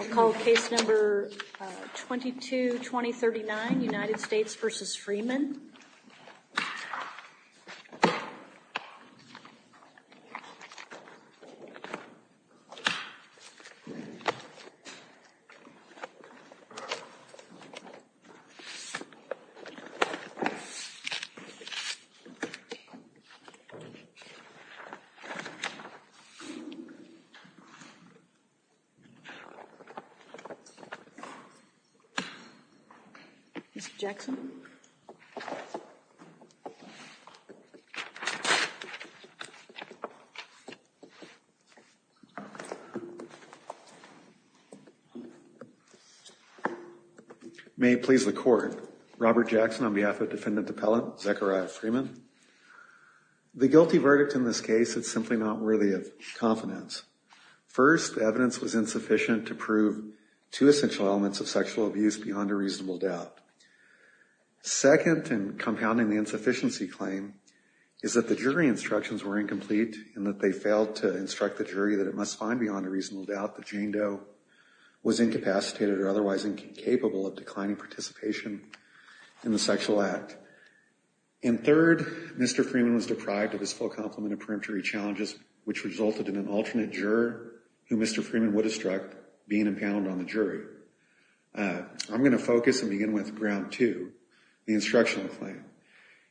I'll call case number 22-2039, United States v. Freeman. Mr. Jackson. May it please the court. Robert Jackson on behalf of defendant appellant Zechariah Freeman. The guilty verdict in this case is simply not worthy of confidence. First, the evidence was insufficient to prove two essential elements of sexual abuse beyond a reasonable doubt. Second, and compounding the insufficiency claim, is that the jury instructions were incomplete, and that they failed to instruct the jury that it must find beyond a reasonable doubt that Jane Doe was incapacitated or otherwise incapable of declining participation in the sexual act. And third, Mr. Freeman was deprived of his full complement of preemptory challenges, which resulted in an alternate juror who Mr. Freeman would have struck being impounded on the jury. I'm going to focus and begin with ground two, the instructional claim.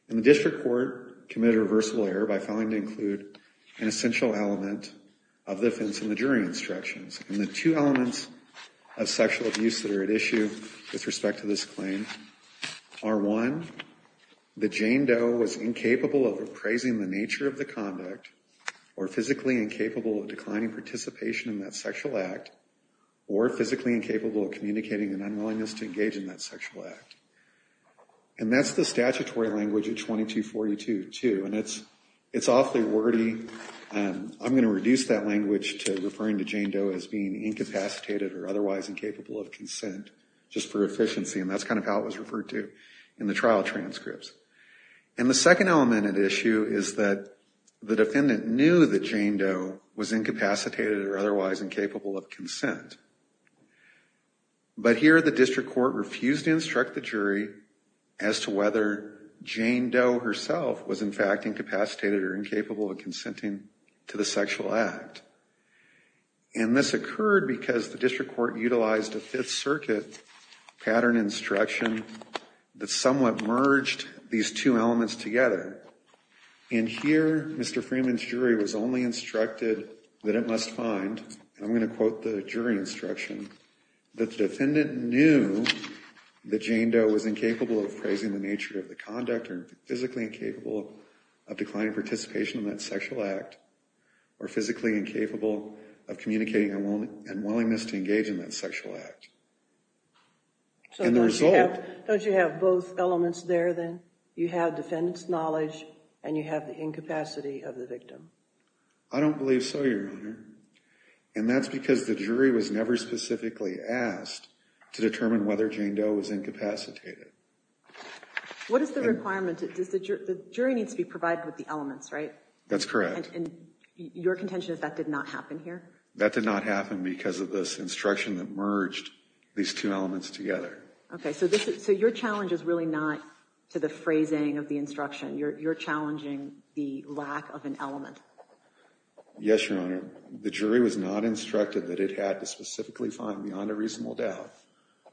And the district court committed a reversible error by failing to include an essential element of the defense and the jury instructions. And the two elements of sexual abuse that are at issue with respect to this claim are one, that Jane Doe was incapable of appraising the nature of the conduct, or physically incapable of declining participation in that sexual act, or physically incapable of communicating an unwillingness to engage in that sexual act. And that's the statutory language at 2242 too, and it's awfully wordy. I'm going to reduce that language to referring to Jane Doe as being incapacitated or otherwise incapable of consent, just for efficiency, and that's kind of how it was referred to in the trial transcripts. And the second element at issue is that the defendant knew that Jane Doe was incapacitated or otherwise incapable of consent. But here the district court refused to instruct the jury as to whether Jane Doe herself was in fact incapacitated or incapable of consenting to the sexual act. And this occurred because the district court utilized a Fifth Circuit pattern instruction that somewhat merged these two elements together. And here Mr. Freeman's jury was only instructed that it must find, and I'm going to quote the jury instruction, that the defendant knew that Jane Doe was incapable of appraising the nature of the conduct or physically incapable of declining participation in that sexual act or physically incapable of communicating and willingness to engage in that sexual act. And the result... So don't you have both elements there then? You have defendant's knowledge and you have the incapacity of the victim. I don't believe so, Your Honor. And that's because the jury was never specifically asked to determine whether Jane Doe was incapacitated. What is the requirement? The jury needs to be provided with the elements, right? That's correct. And your contention is that did not happen here? That did not happen because of this instruction that merged these two elements together. Okay, so your challenge is really not to the phrasing of the instruction. You're challenging the lack of an element. Yes, Your Honor. The jury was not instructed that it had to specifically find beyond a reasonable doubt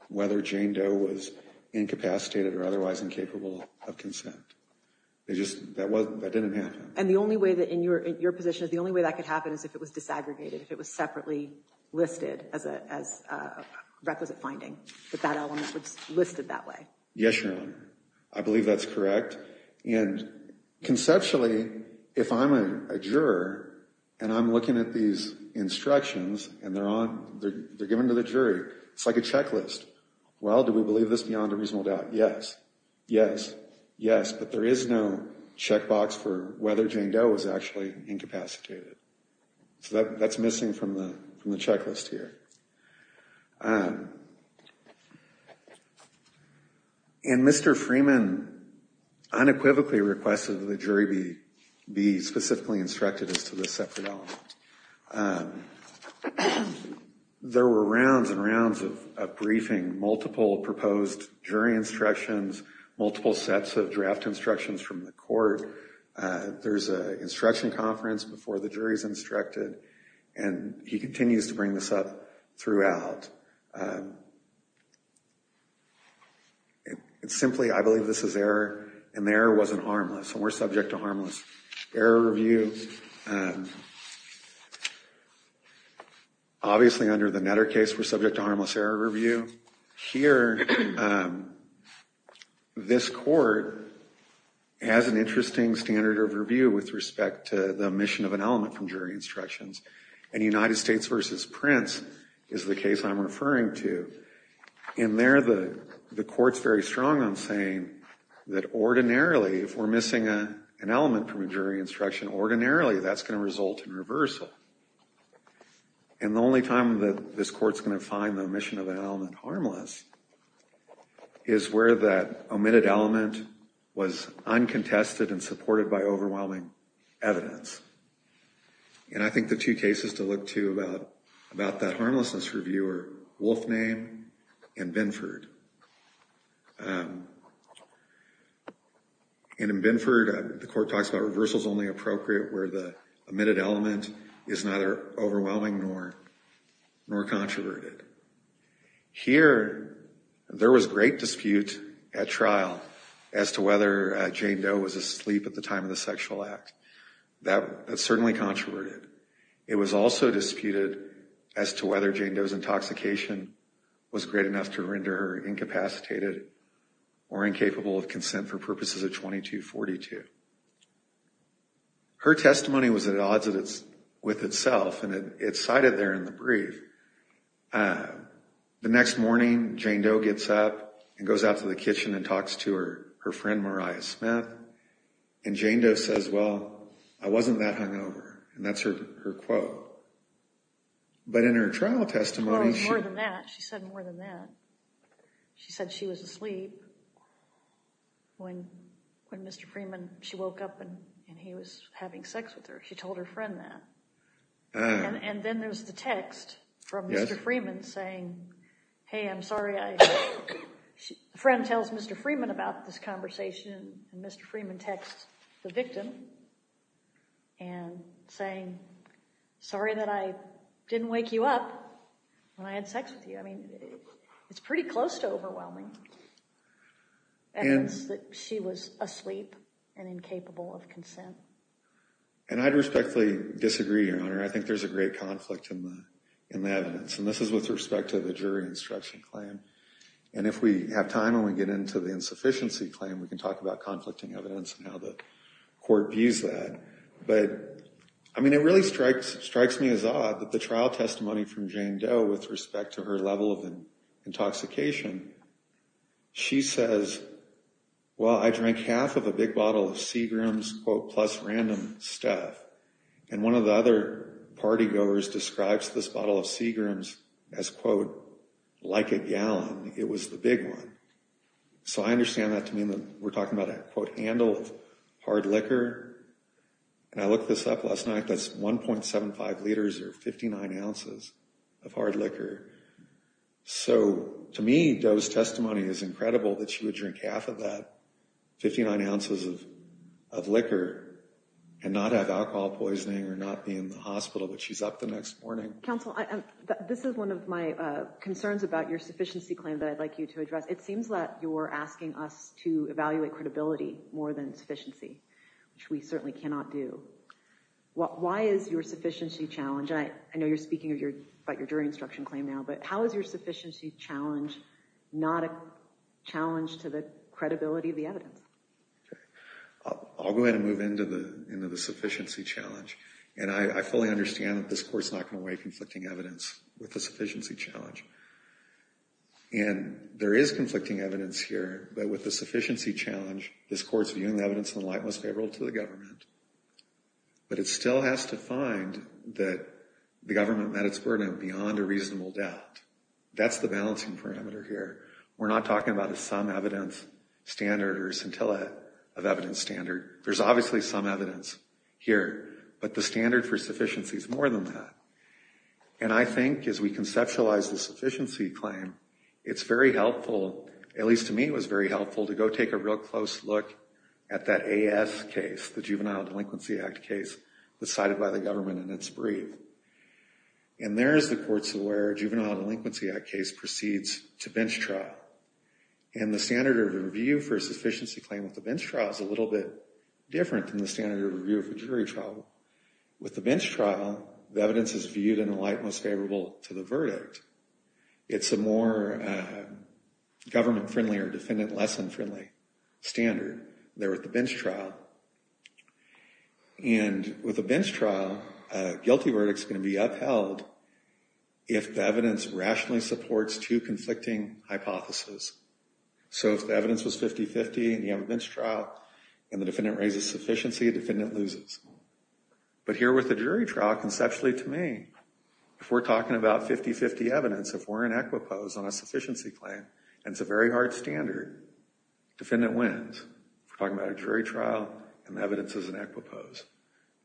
whether Jane Doe was incapacitated or otherwise incapable of consent. That didn't happen. And the only way that in your position, the only way that could happen is if it was disaggregated, if it was separately listed as a requisite finding, that that element was listed that way. Yes, Your Honor. I believe that's correct. And conceptually, if I'm a juror and I'm looking at these instructions and they're given to the jury, it's like a checklist. Well, do we believe this beyond a reasonable doubt? Yes. Yes. Yes, but there is no checkbox for whether Jane Doe was actually incapacitated. So that's missing from the checklist here. And Mr. Freeman unequivocally requested that the jury be specifically instructed as to this separate element. There were rounds and rounds of briefing, multiple proposed jury instructions, multiple sets of draft instructions from the court. There's an instruction conference before the jury is instructed, and he continues to bring this up throughout. It's simply, I believe this is error, and the error wasn't harmless, and we're subject to harmless error review. Obviously, under the Netter case, we're subject to harmless error review. Here, this court has an interesting standard of review with respect to the omission of an element from jury instructions, and United States v. Prince is the case I'm referring to. In there, the court's very strong on saying that ordinarily, if we're missing an element from a jury instruction, ordinarily that's going to result in reversal. And the only time that this court's going to find the omission of an element harmless is where that omitted element was uncontested and supported by overwhelming evidence. And I think the two cases to look to about that harmlessness review are Wolfname and Binford. And in Binford, the court talks about reversal's only appropriate where the omitted element is neither overwhelming nor controverted. Here, there was great dispute at trial as to whether Jane Doe was asleep at the time of the sexual act. That's certainly controverted. It was also disputed as to whether Jane Doe's intoxication was great enough to render her incapacitated or incapable of consent for purposes of 2242. Her testimony was at odds with itself, and it's cited there in the brief. The next morning, Jane Doe gets up and goes out to the kitchen and talks to her friend, Mariah Smith. And Jane Doe says, well, I wasn't that hungover. And that's her quote. But in her trial testimony, she said more than that. She said she was asleep when Mr. Freeman, she woke up and he was having sex with her. She told her friend that. And then there's the text from Mr. Freeman saying, hey, I'm sorry. A friend tells Mr. Freeman about this conversation, and Mr. Freeman texts the victim and saying, sorry that I didn't wake you up when I had sex with you. I mean, it's pretty close to overwhelming evidence that she was asleep and incapable of consent. And I'd respectfully disagree, Your Honor. I think there's a great conflict in the evidence. And this is with respect to the jury instruction claim. And if we have time and we get into the insufficiency claim, we can talk about conflicting evidence and how the court views that. But, I mean, it really strikes me as odd that the trial testimony from Jane Doe with respect to her level of intoxication, she says, well, I drank half of a big bottle of Seagram's plus random stuff. And one of the other party goers describes this bottle of Seagram's as, quote, like a gallon. It was the big one. So I understand that to mean that we're talking about a, quote, handle of hard liquor. And I looked this up last night. That's 1.75 liters or 59 ounces of hard liquor. So to me, Doe's testimony is incredible that she would drink half of that, or not be in the hospital, but she's up the next morning. Counsel, this is one of my concerns about your sufficiency claim that I'd like you to address. It seems that you're asking us to evaluate credibility more than sufficiency, which we certainly cannot do. Why is your sufficiency challenge? I know you're speaking about your jury instruction claim now, but how is your sufficiency challenge not a challenge to the credibility of the evidence? I'll go ahead and move into the sufficiency challenge. And I fully understand that this court's not going to weigh conflicting evidence with the sufficiency challenge. And there is conflicting evidence here, but with the sufficiency challenge, this court's viewing the evidence in the light most favorable to the government. But it still has to find that the government met its burden beyond a reasonable doubt. That's the balancing parameter here. We're not talking about a sum evidence standard or a scintilla of evidence standard. There's obviously some evidence here, but the standard for sufficiency is more than that. And I think as we conceptualize the sufficiency claim, it's very helpful, at least to me it was very helpful, to go take a real close look at that AS case, the Juvenile Delinquency Act case that's cited by the government in its brief. And there's the courts where Juvenile Delinquency Act case proceeds to bench trial. And the standard of review for a sufficiency claim at the bench trial is a little bit different than the standard of review of a jury trial. With the bench trial, the evidence is viewed in the light most favorable to the verdict. It's a more government-friendly or defendant-lesson-friendly standard. They're at the bench trial. And with a bench trial, a guilty verdict is going to be upheld if the evidence rationally supports two conflicting hypotheses. So if the evidence was 50-50 and you have a bench trial and the defendant raises sufficiency, the defendant loses. But here with the jury trial, conceptually to me, if we're talking about 50-50 evidence, if we're in equipoise on a sufficiency claim and it's a very hard standard, defendant wins. We're talking about a jury trial and the evidence is in equipoise.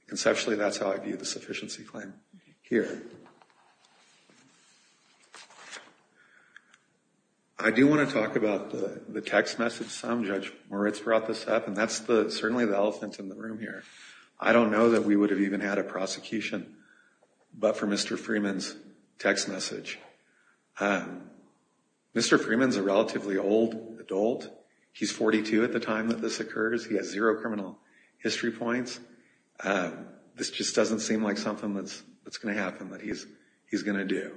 Conceptually, that's how I view the sufficiency claim here. I do want to talk about the text message. Judge Moritz brought this up, and that's certainly the elephant in the room here. I don't know that we would have even had a prosecution but for Mr. Freeman's text message. Mr. Freeman's a relatively old adult. He's 42 at the time that this occurs. He has zero criminal history points. This just doesn't seem like something that's going to happen that he's going to do.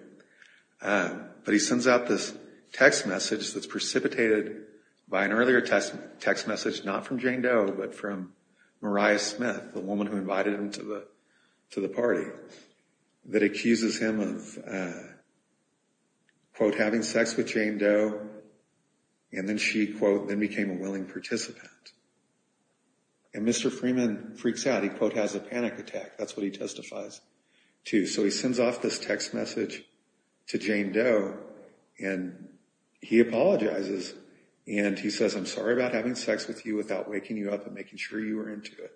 But he sends out this text message that's precipitated by an earlier text message, not from Jane Doe, but from Mariah Smith, the woman who invited him to the party, that accuses him of, quote, having sex with Jane Doe. And then she, quote, then became a willing participant. And Mr. Freeman freaks out. He, quote, has a panic attack. That's what he testifies to. So he sends off this text message to Jane Doe and he apologizes. And he says, I'm sorry about having sex with you without waking you up and making sure you were into it.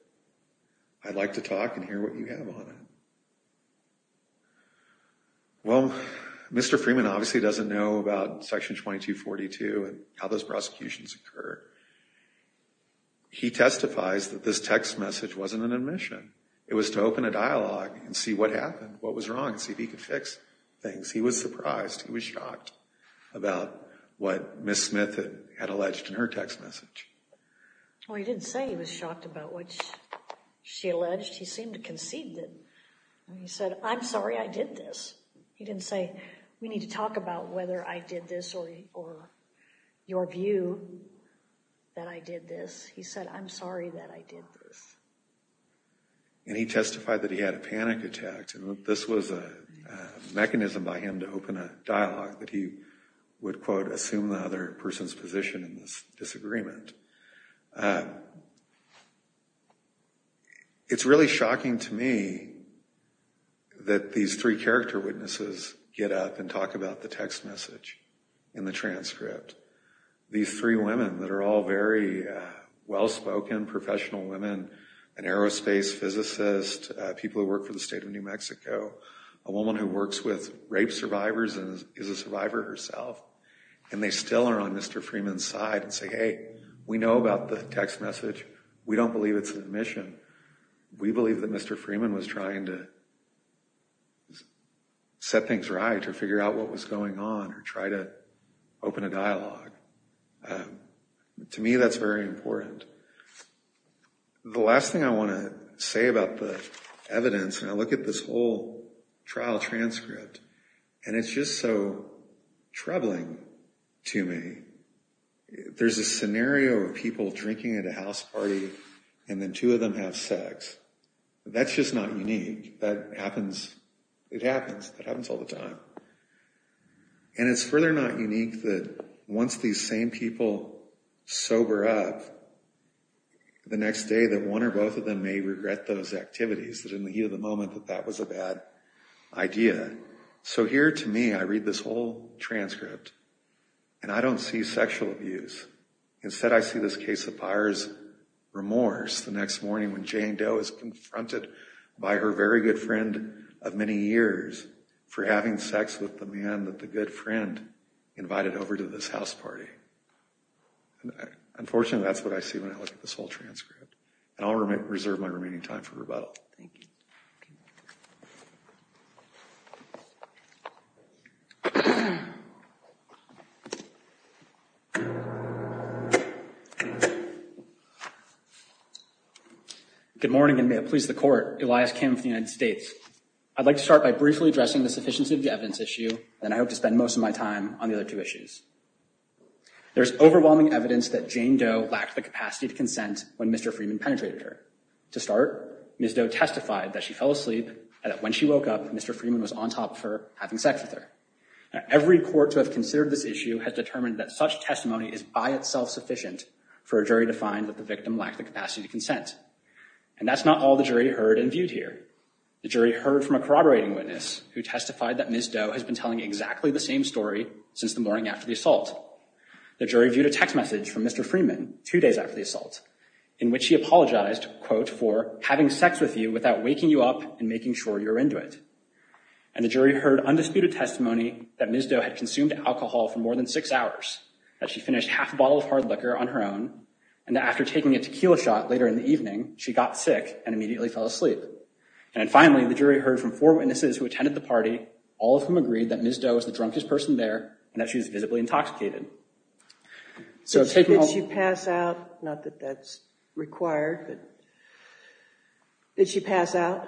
I'd like to talk and hear what you have on it. Well, Mr. Freeman obviously doesn't know about Section 2242 and how those prosecutions occur. He testifies that this text message wasn't an admission. It was to open a dialogue and see what happened, what was wrong, and see if he could fix things. He was surprised. He was shocked about what Ms. Smith had alleged in her text message. Well, he didn't say he was shocked about what she alleged. He seemed to concede it. He said, I'm sorry I did this. He didn't say, we need to talk about whether I did this or your view that I did this. He said, I'm sorry that I did this. And he testified that he had a panic attack. This was a mechanism by him to open a dialogue that he would, quote, assume the other person's position in this disagreement. It's really shocking to me that these three character witnesses get up and talk about the text message in the transcript. These three women that are all very well-spoken, professional women, an aerospace physicist, people who work for the state of New Mexico, a woman who works with rape survivors and is a survivor herself, and they still are on Mr. Freeman's side and say, hey, we know about the text message. We don't believe it's an admission. We believe that Mr. Freeman was trying to set things right or figure out what was going on or try to open a dialogue. To me, that's very important. The last thing I want to say about the evidence, and I look at this whole trial transcript, and it's just so troubling to me. There's a scenario of people drinking at a house party and then two of them have sex. That's just not unique. That happens. It happens. It happens all the time. And it's further not unique that once these same people sober up, the next day that one or both of them may regret those activities, that in the heat of the moment that that was a bad idea. So here to me, I read this whole transcript, and I don't see sexual abuse. Instead, I see this case of buyer's remorse the next morning when Jane Doe is confronted by her very good friend of many years for having sex with the man that the good friend invited over to this house party. Unfortunately, that's what I see when I look at this whole transcript. And I'll reserve my remaining time for rebuttal. Thank you. Good morning, and may it please the Court. Elias Kim of the United States. I'd like to start by briefly addressing the sufficiency of the evidence issue, and I hope to spend most of my time on the other two issues. There's overwhelming evidence that Jane Doe lacked the capacity to consent when Mr. Freeman penetrated her. To start, Ms. Doe testified that she fell asleep and that when she woke up, Mr. Freeman was on top of her having sex with her. Now, every court to have considered this issue has determined that such testimony is by itself sufficient for a jury to find that the victim lacked the capacity to consent. And that's not all the jury heard and viewed here. The jury heard from a corroborating witness who testified that Ms. Doe has been telling exactly the same story since the morning after the assault. The jury viewed a text message from Mr. Freeman two days after the assault in which he apologized, quote, for having sex with you without waking you up and making sure you're into it. And the jury heard undisputed testimony that Ms. Doe had consumed alcohol for more than six hours, that she finished half a bottle of hard liquor on her own, and that after taking a tequila shot later in the evening, she got sick and immediately fell asleep. And finally, the jury heard from four witnesses who attended the party, all of whom agreed that Ms. Doe was the drunkest person there and that she was visibly intoxicated. Did she pass out? Not that that's required, but did she pass out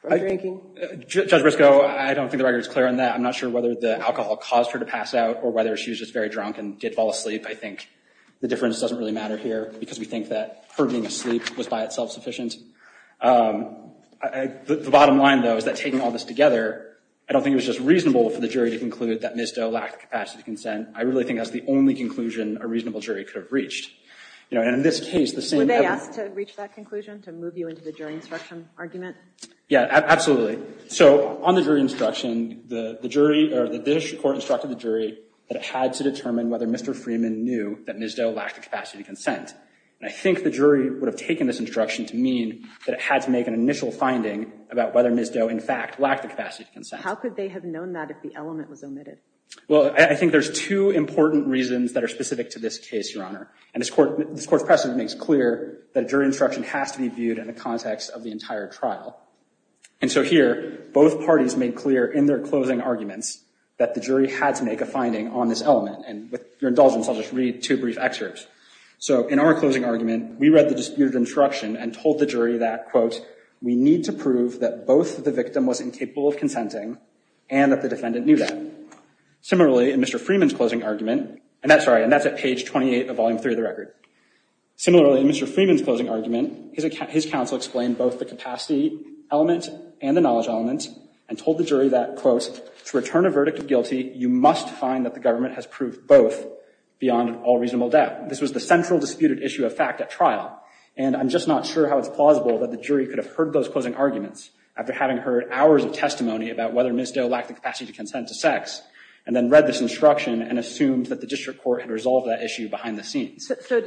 from drinking? Judge Briscoe, I don't think the record is clear on that. I'm not sure whether the alcohol caused her to pass out or whether she was just very drunk and did fall asleep. I think the difference doesn't really matter here because we think that her being asleep was by itself sufficient. The bottom line, though, is that taking all this together, I don't think it was just reasonable for the jury to conclude that Ms. Doe lacked the capacity to consent. I really think that's the only conclusion a reasonable jury could have reached. And in this case, the same— Were they asked to reach that conclusion, to move you into the jury instruction argument? Yeah, absolutely. So on the jury instruction, the district court instructed the jury that it had to determine whether Mr. Freeman knew that Ms. Doe lacked the capacity to consent. And I think the jury would have taken this instruction to mean that it had to make an initial finding about whether Ms. Doe, in fact, lacked the capacity to consent. How could they have known that if the element was omitted? Well, I think there's two important reasons that are specific to this case, Your Honor. And this Court's precedent makes clear that a jury instruction has to be viewed in the context of the entire trial. And so here, both parties made clear in their closing arguments that the jury had to make a finding on this element. And with your indulgence, I'll just read two brief excerpts. So in our closing argument, we read the disputed instruction and told the jury that, quote, we need to prove that both the victim was incapable of consenting and that the defendant knew that. Similarly, in Mr. Freeman's closing argument, and that's right, and that's at page 28 of Volume 3 of the record. Similarly, in Mr. Freeman's closing argument, his counsel explained both the capacity element and the knowledge element and told the jury that, quote, to return a verdict of guilty, you must find that the government has proved both beyond all reasonable doubt. This was the central disputed issue of fact at trial. And I'm just not sure how it's plausible that the jury could have heard those closing arguments after having heard hours of testimony about whether Ms. Doe lacked the capacity to consent to sex and then read this instruction and assumed that the district court had resolved that issue behind the scenes. So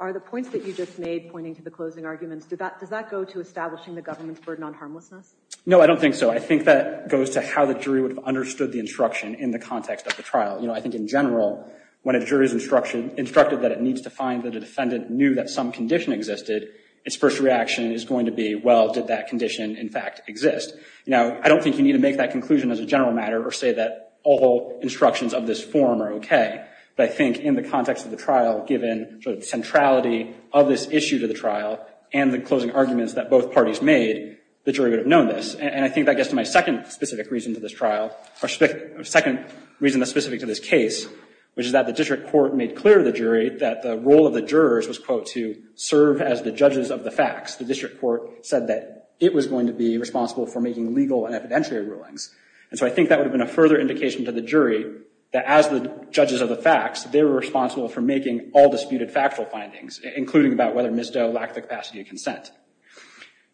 are the points that you just made pointing to the closing arguments, does that go to establishing the government's burden on harmlessness? No, I don't think so. I think that goes to how the jury would have understood the instruction in the context of the trial. You know, I think in general, when a jury's instruction instructed that it needs to find that a defendant knew that some condition existed, its first reaction is going to be, well, did that condition in fact exist? Now, I don't think you need to make that conclusion as a general matter or say that all instructions of this form are OK. But I think in the context of the trial, given the centrality of this issue to the trial and the closing arguments that both parties made, the jury would have known this. And I think that gets to my second specific reason to this trial, or second reason that's specific to this case, which is that the district court made clear to the jury that the role of the jurors was, quote, to serve as the judges of the facts. The district court said that it was going to be responsible for making legal and evidentiary rulings. And so I think that would have been a further indication to the jury that as the judges of the facts, they were responsible for making all disputed factual findings, including about whether Ms. Doe lacked the capacity to consent.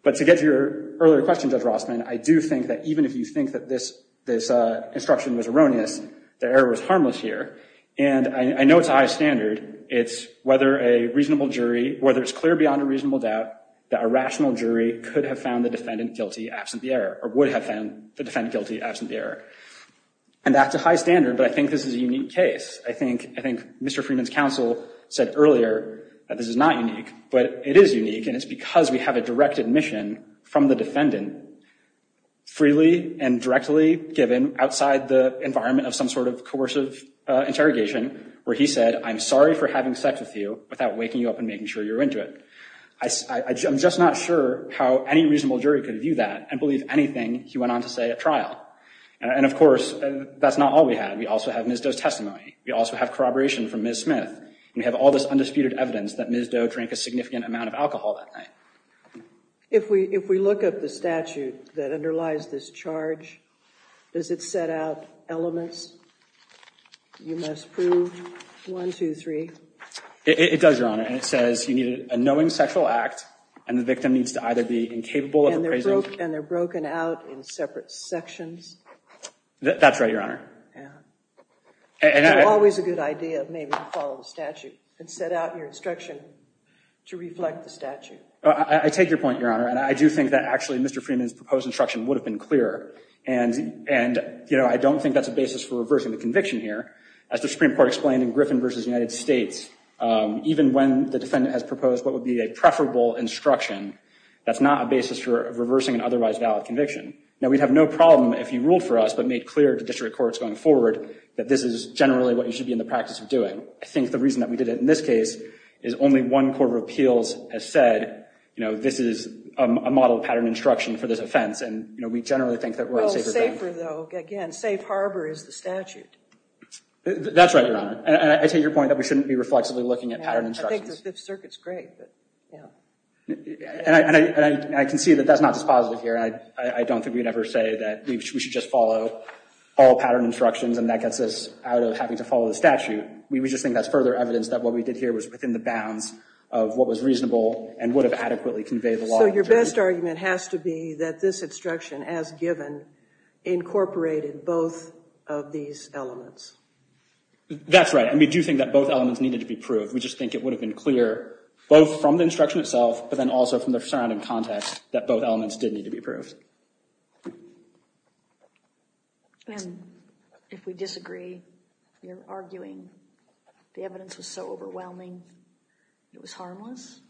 But to get to your earlier question, Judge Rossman, I do think that even if you think that this instruction was erroneous, the error was harmless here. And I know it's high standard. It's whether a reasonable jury, whether it's clear beyond a reasonable doubt that a rational jury could have found the defendant guilty absent the error, or would have found the defendant guilty absent the error. And that's a high standard, but I think this is a unique case. I think Mr. Freeman's counsel said earlier that this is not unique, but it is unique, and it's because we have a direct admission from the defendant, freely and directly given, outside the environment of some sort of coercive interrogation, where he said, I'm sorry for having sex with you without waking you up and making sure you're into it. I'm just not sure how any reasonable jury could view that and believe anything he went on to say at trial. And of course, that's not all we have. We also have Ms. Doe's testimony. We also have corroboration from Ms. Smith. And we have all this undisputed evidence that Ms. Doe drank a significant amount of alcohol that night. If we look at the statute that underlies this charge, does it set out elements you must prove? One, two, three. It does, Your Honor. And it says you need a knowing sexual act, and the victim needs to either be incapable of the prison. And they're broken out in separate sections? That's right, Your Honor. It's always a good idea maybe to follow the statute and set out your instruction to reflect the statute. I take your point, Your Honor. And I do think that actually Mr. Freeman's proposed instruction would have been clearer. And I don't think that's a basis for reversing the conviction here. As the Supreme Court explained in Griffin v. United States, even when the defendant has proposed what would be a preferable instruction, that's not a basis for reversing an otherwise valid conviction. Now, we'd have no problem if you ruled for us but made clear to district courts going forward that this is generally what you should be in the practice of doing. I think the reason that we did it in this case is only one court of appeals has said, you know, this is a model pattern instruction for this offense. And, you know, we generally think that we're a safer gun. Well, safer, though, again, safe harbor is the statute. That's right, Your Honor. And I take your point that we shouldn't be reflexively looking at pattern instructions. I think the circuit's great, but, you know. And I can see that that's not dispositive here. I don't think we'd ever say that we should just follow all pattern instructions and that gets us out of having to follow the statute. We just think that's further evidence that what we did here was within the bounds of what was reasonable and would have adequately conveyed the law. So your best argument has to be that this instruction, as given, incorporated both of these elements. That's right. And we do think that both elements needed to be proved. We just think it would have been clear both from the instruction itself but then also from the surrounding context that both elements did need to be proved. And if we disagree, you're arguing the evidence was so overwhelming it was harmless?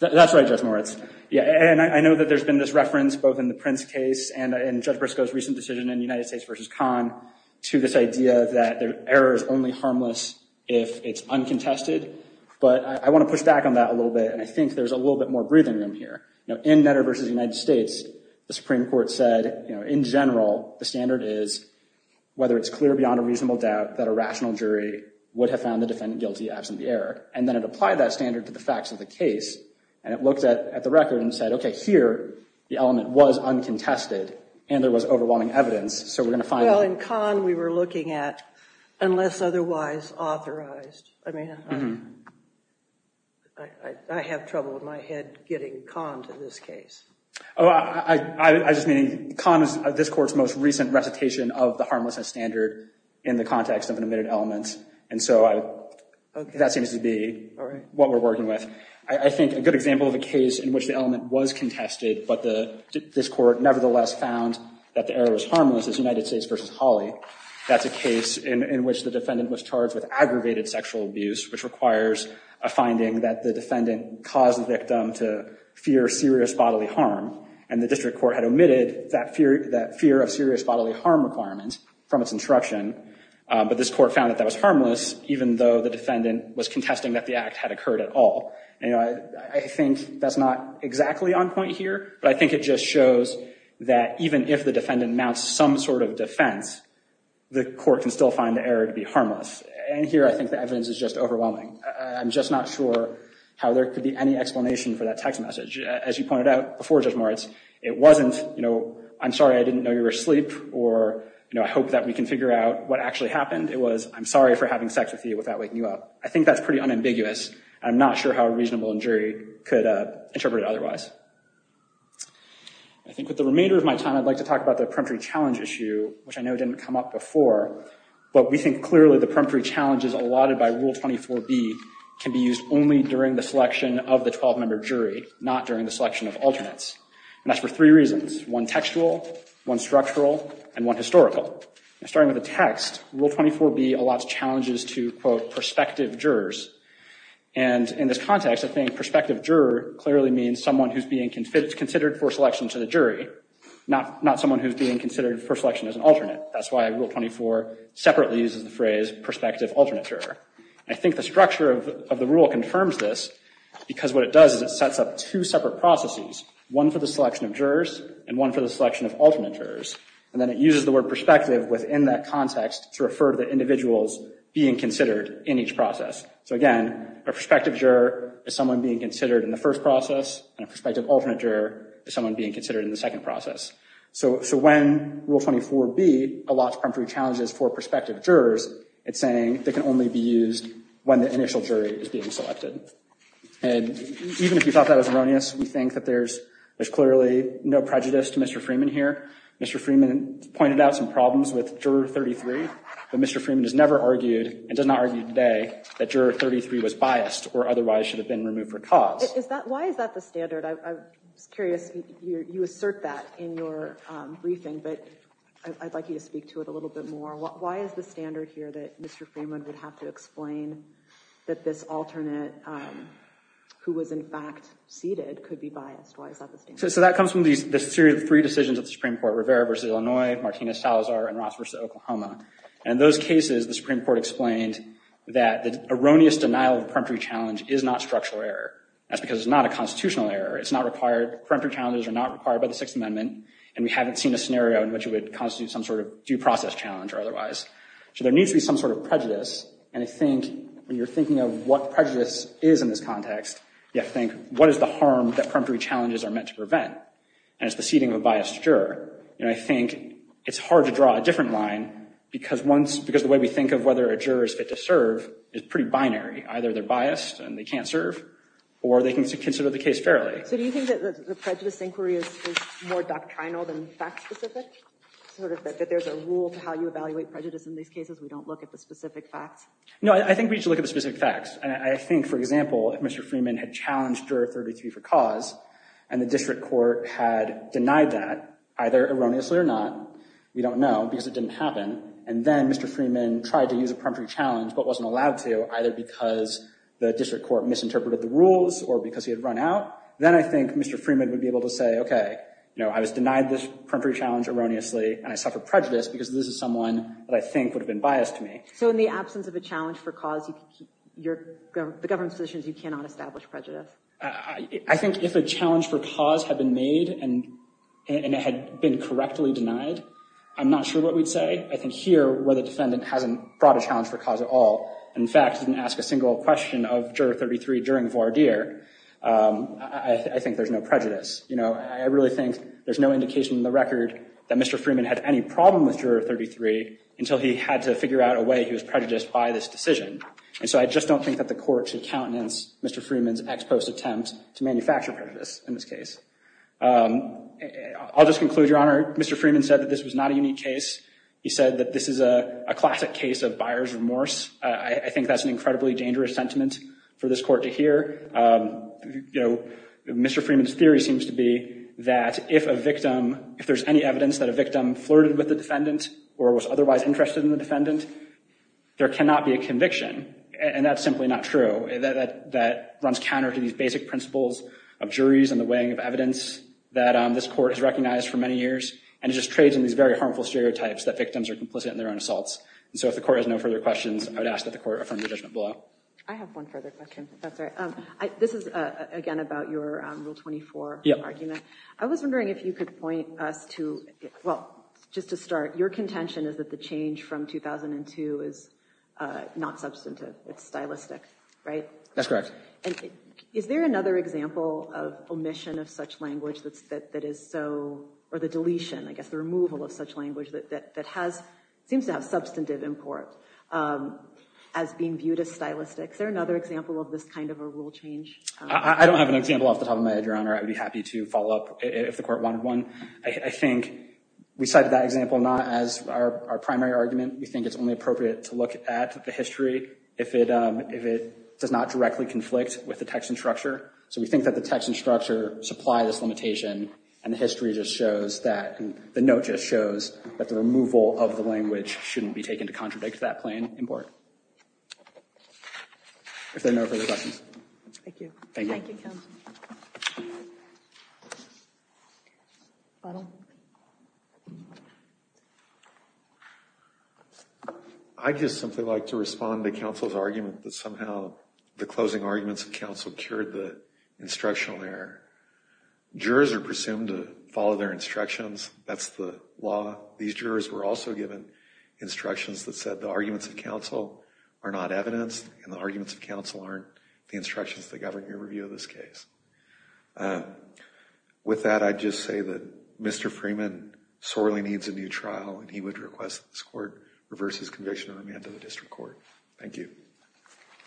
That's right, Judge Moritz. Yeah, and I know that there's been this reference both in the Prince case to this idea that error is only harmless if it's uncontested. But I want to push back on that a little bit, and I think there's a little bit more breathing room here. In Netter v. United States, the Supreme Court said in general the standard is whether it's clear beyond a reasonable doubt that a rational jury would have found the defendant guilty absent the error. And then it applied that standard to the facts of the case, and it looked at the record and said, okay, here the element was uncontested and there was overwhelming evidence, so we're going to find that. Well, in Kahn we were looking at unless otherwise authorized. I mean, I have trouble with my head getting Kahn to this case. Oh, I just mean Kahn is this Court's most recent recitation of the harmlessness standard in the context of an admitted element, and so that seems to be what we're working with. I think a good example of a case in which the element was contested but this Court nevertheless found that the error was harmless is United States v. Hawley. That's a case in which the defendant was charged with aggravated sexual abuse, which requires a finding that the defendant caused the victim to fear serious bodily harm, and the district court had omitted that fear of serious bodily harm requirement from its instruction. But this Court found that that was harmless, even though the defendant was contesting that the act had occurred at all. You know, I think that's not exactly on point here, but I think it just shows that even if the defendant mounts some sort of defense, the Court can still find the error to be harmless, and here I think the evidence is just overwhelming. I'm just not sure how there could be any explanation for that text message. As you pointed out before, Judge Moritz, it wasn't, you know, I'm sorry I didn't know you were asleep or, you know, I hope that we can figure out what actually happened. It was, I'm sorry for having sex with you without waking you up. I think that's pretty unambiguous. I'm not sure how a reasonable jury could interpret it otherwise. I think with the remainder of my time, I'd like to talk about the peremptory challenge issue, which I know didn't come up before, but we think clearly the peremptory challenge is allotted by Rule 24b can be used only during the selection of the 12-member jury, not during the selection of alternates. And that's for three reasons, one textual, one structural, and one historical. Starting with the text, Rule 24b allots challenges to, quote, prospective jurors. And in this context, I think prospective juror clearly means someone who's being considered for selection to the jury, not someone who's being considered for selection as an alternate. That's why Rule 24 separately uses the phrase prospective alternate juror. I think the structure of the rule confirms this because what it does is it sets up two separate processes, one for the selection of jurors and one for the selection of alternate jurors. And then it uses the word prospective within that context to refer to the individuals being considered in each process. So again, a prospective juror is someone being considered in the first process, and a prospective alternate juror is someone being considered in the second process. So when Rule 24b allots peremptory challenges for prospective jurors, it's saying they can only be used when the initial jury is being selected. And even if you thought that was erroneous, we think that there's clearly no prejudice to Mr. Freeman here. Mr. Freeman pointed out some problems with Juror 33, but Mr. Freeman has never argued and does not argue today that Juror 33 was biased or otherwise should have been removed for cause. Why is that the standard? I'm curious. You assert that in your briefing, but I'd like you to speak to it a little bit more. Why is the standard here that Mr. Freeman would have to explain that this alternate who was in fact seated could be biased? Why is that the standard? So that comes from the three decisions of the Supreme Court, Rivera v. Illinois, Martinez-Salazar, and Ross v. Oklahoma. And in those cases, the Supreme Court explained that the erroneous denial of the peremptory challenge is not structural error. That's because it's not a constitutional error. It's not required. Peremptory challenges are not required by the Sixth Amendment. And we haven't seen a scenario in which it would constitute some sort of due process challenge or otherwise. So there needs to be some sort of prejudice. And I think when you're thinking of what prejudice is in this context, you have to think, what is the harm that peremptory challenges are meant to prevent? And it's the seating of a biased juror. And I think it's hard to draw a different line because once because the way we think of whether a juror is fit to serve is pretty binary. Either they're biased and they can't serve or they can consider the case fairly. So do you think that the prejudice inquiry is more doctrinal than fact specific? Sort of that there's a rule to how you evaluate prejudice in these cases. We don't look at the specific facts. No, I think we should look at the specific facts. And I think, for example, if Mr. Freeman had challenged juror 33 for cause and the district court had denied that, either erroneously or not, we don't know because it didn't happen. And then Mr. Freeman tried to use a peremptory challenge but wasn't allowed to, either because the district court misinterpreted the rules or because he had run out. Then I think Mr. Freeman would be able to say, OK, you know, I was denied this peremptory challenge erroneously. And I suffer prejudice because this is someone that I think would have been biased to me. So in the absence of a challenge for cause, the government's position is you cannot establish prejudice. I think if a challenge for cause had been made and it had been correctly denied, I'm not sure what we'd say. I think here, where the defendant hasn't brought a challenge for cause at all, in fact, didn't ask a single question of juror 33 during voir dire, I think there's no prejudice. You know, I really think there's no indication in the record that Mr. Freeman had any problem with juror 33 until he had to figure out a way he was prejudiced by this decision. And so I just don't think that the court should countenance Mr. Freeman's ex post attempt to manufacture prejudice in this case. I'll just conclude, Your Honor. Mr. Freeman said that this was not a unique case. He said that this is a classic case of buyer's remorse. I think that's an incredibly dangerous sentiment for this court to hear. You know, Mr. Freeman's theory seems to be that if a victim, if there's any evidence that a victim flirted with the defendant or was otherwise interested in the defendant, there cannot be a conviction. And that's simply not true. That runs counter to these basic principles of juries and the weighing of evidence that this court has recognized for many years. And it just trades in these very harmful stereotypes that victims are complicit in their own assaults. And so if the court has no further questions, I would ask that the court affirm the judgment below. I have one further question. That's right. This is, again, about your rule 24 argument. I was wondering if you could point us to. Well, just to start, your contention is that the change from 2002 is not substantive. It's stylistic, right? That's correct. Is there another example of omission of such language that is so, or the deletion, I guess, the removal of such language that seems to have substantive import as being viewed as stylistic? Is there another example of this kind of a rule change? I don't have an example off the top of my head, Your Honor. I would be happy to follow up if the court wanted one. I think we cited that example not as our primary argument. We think it's only appropriate to look at the history if it does not directly conflict with the text and structure. So we think that the text and structure supply this limitation. And the history just shows that the note just shows that the removal of the language shouldn't be taken to contradict that plain import. If there are no further questions. Thank you. Thank you, counsel. I'd just simply like to respond to counsel's argument that somehow the closing arguments of counsel cured the instructional error. Jurors are presumed to follow their instructions. That's the law. These jurors were also given instructions that said the arguments of counsel are not evidence. And the arguments of counsel aren't the instructions that govern your review of this case. With that, I'd just say that Mr. Freeman sorely needs a new trial. And he would request that this court reverse his conviction and amend to the district court. Thank you.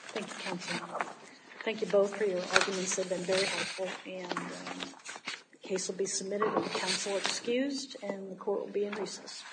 Thank you, counsel. Thank you both for your arguments. They've been very helpful. The case will be submitted with counsel excused and the court will be in recess.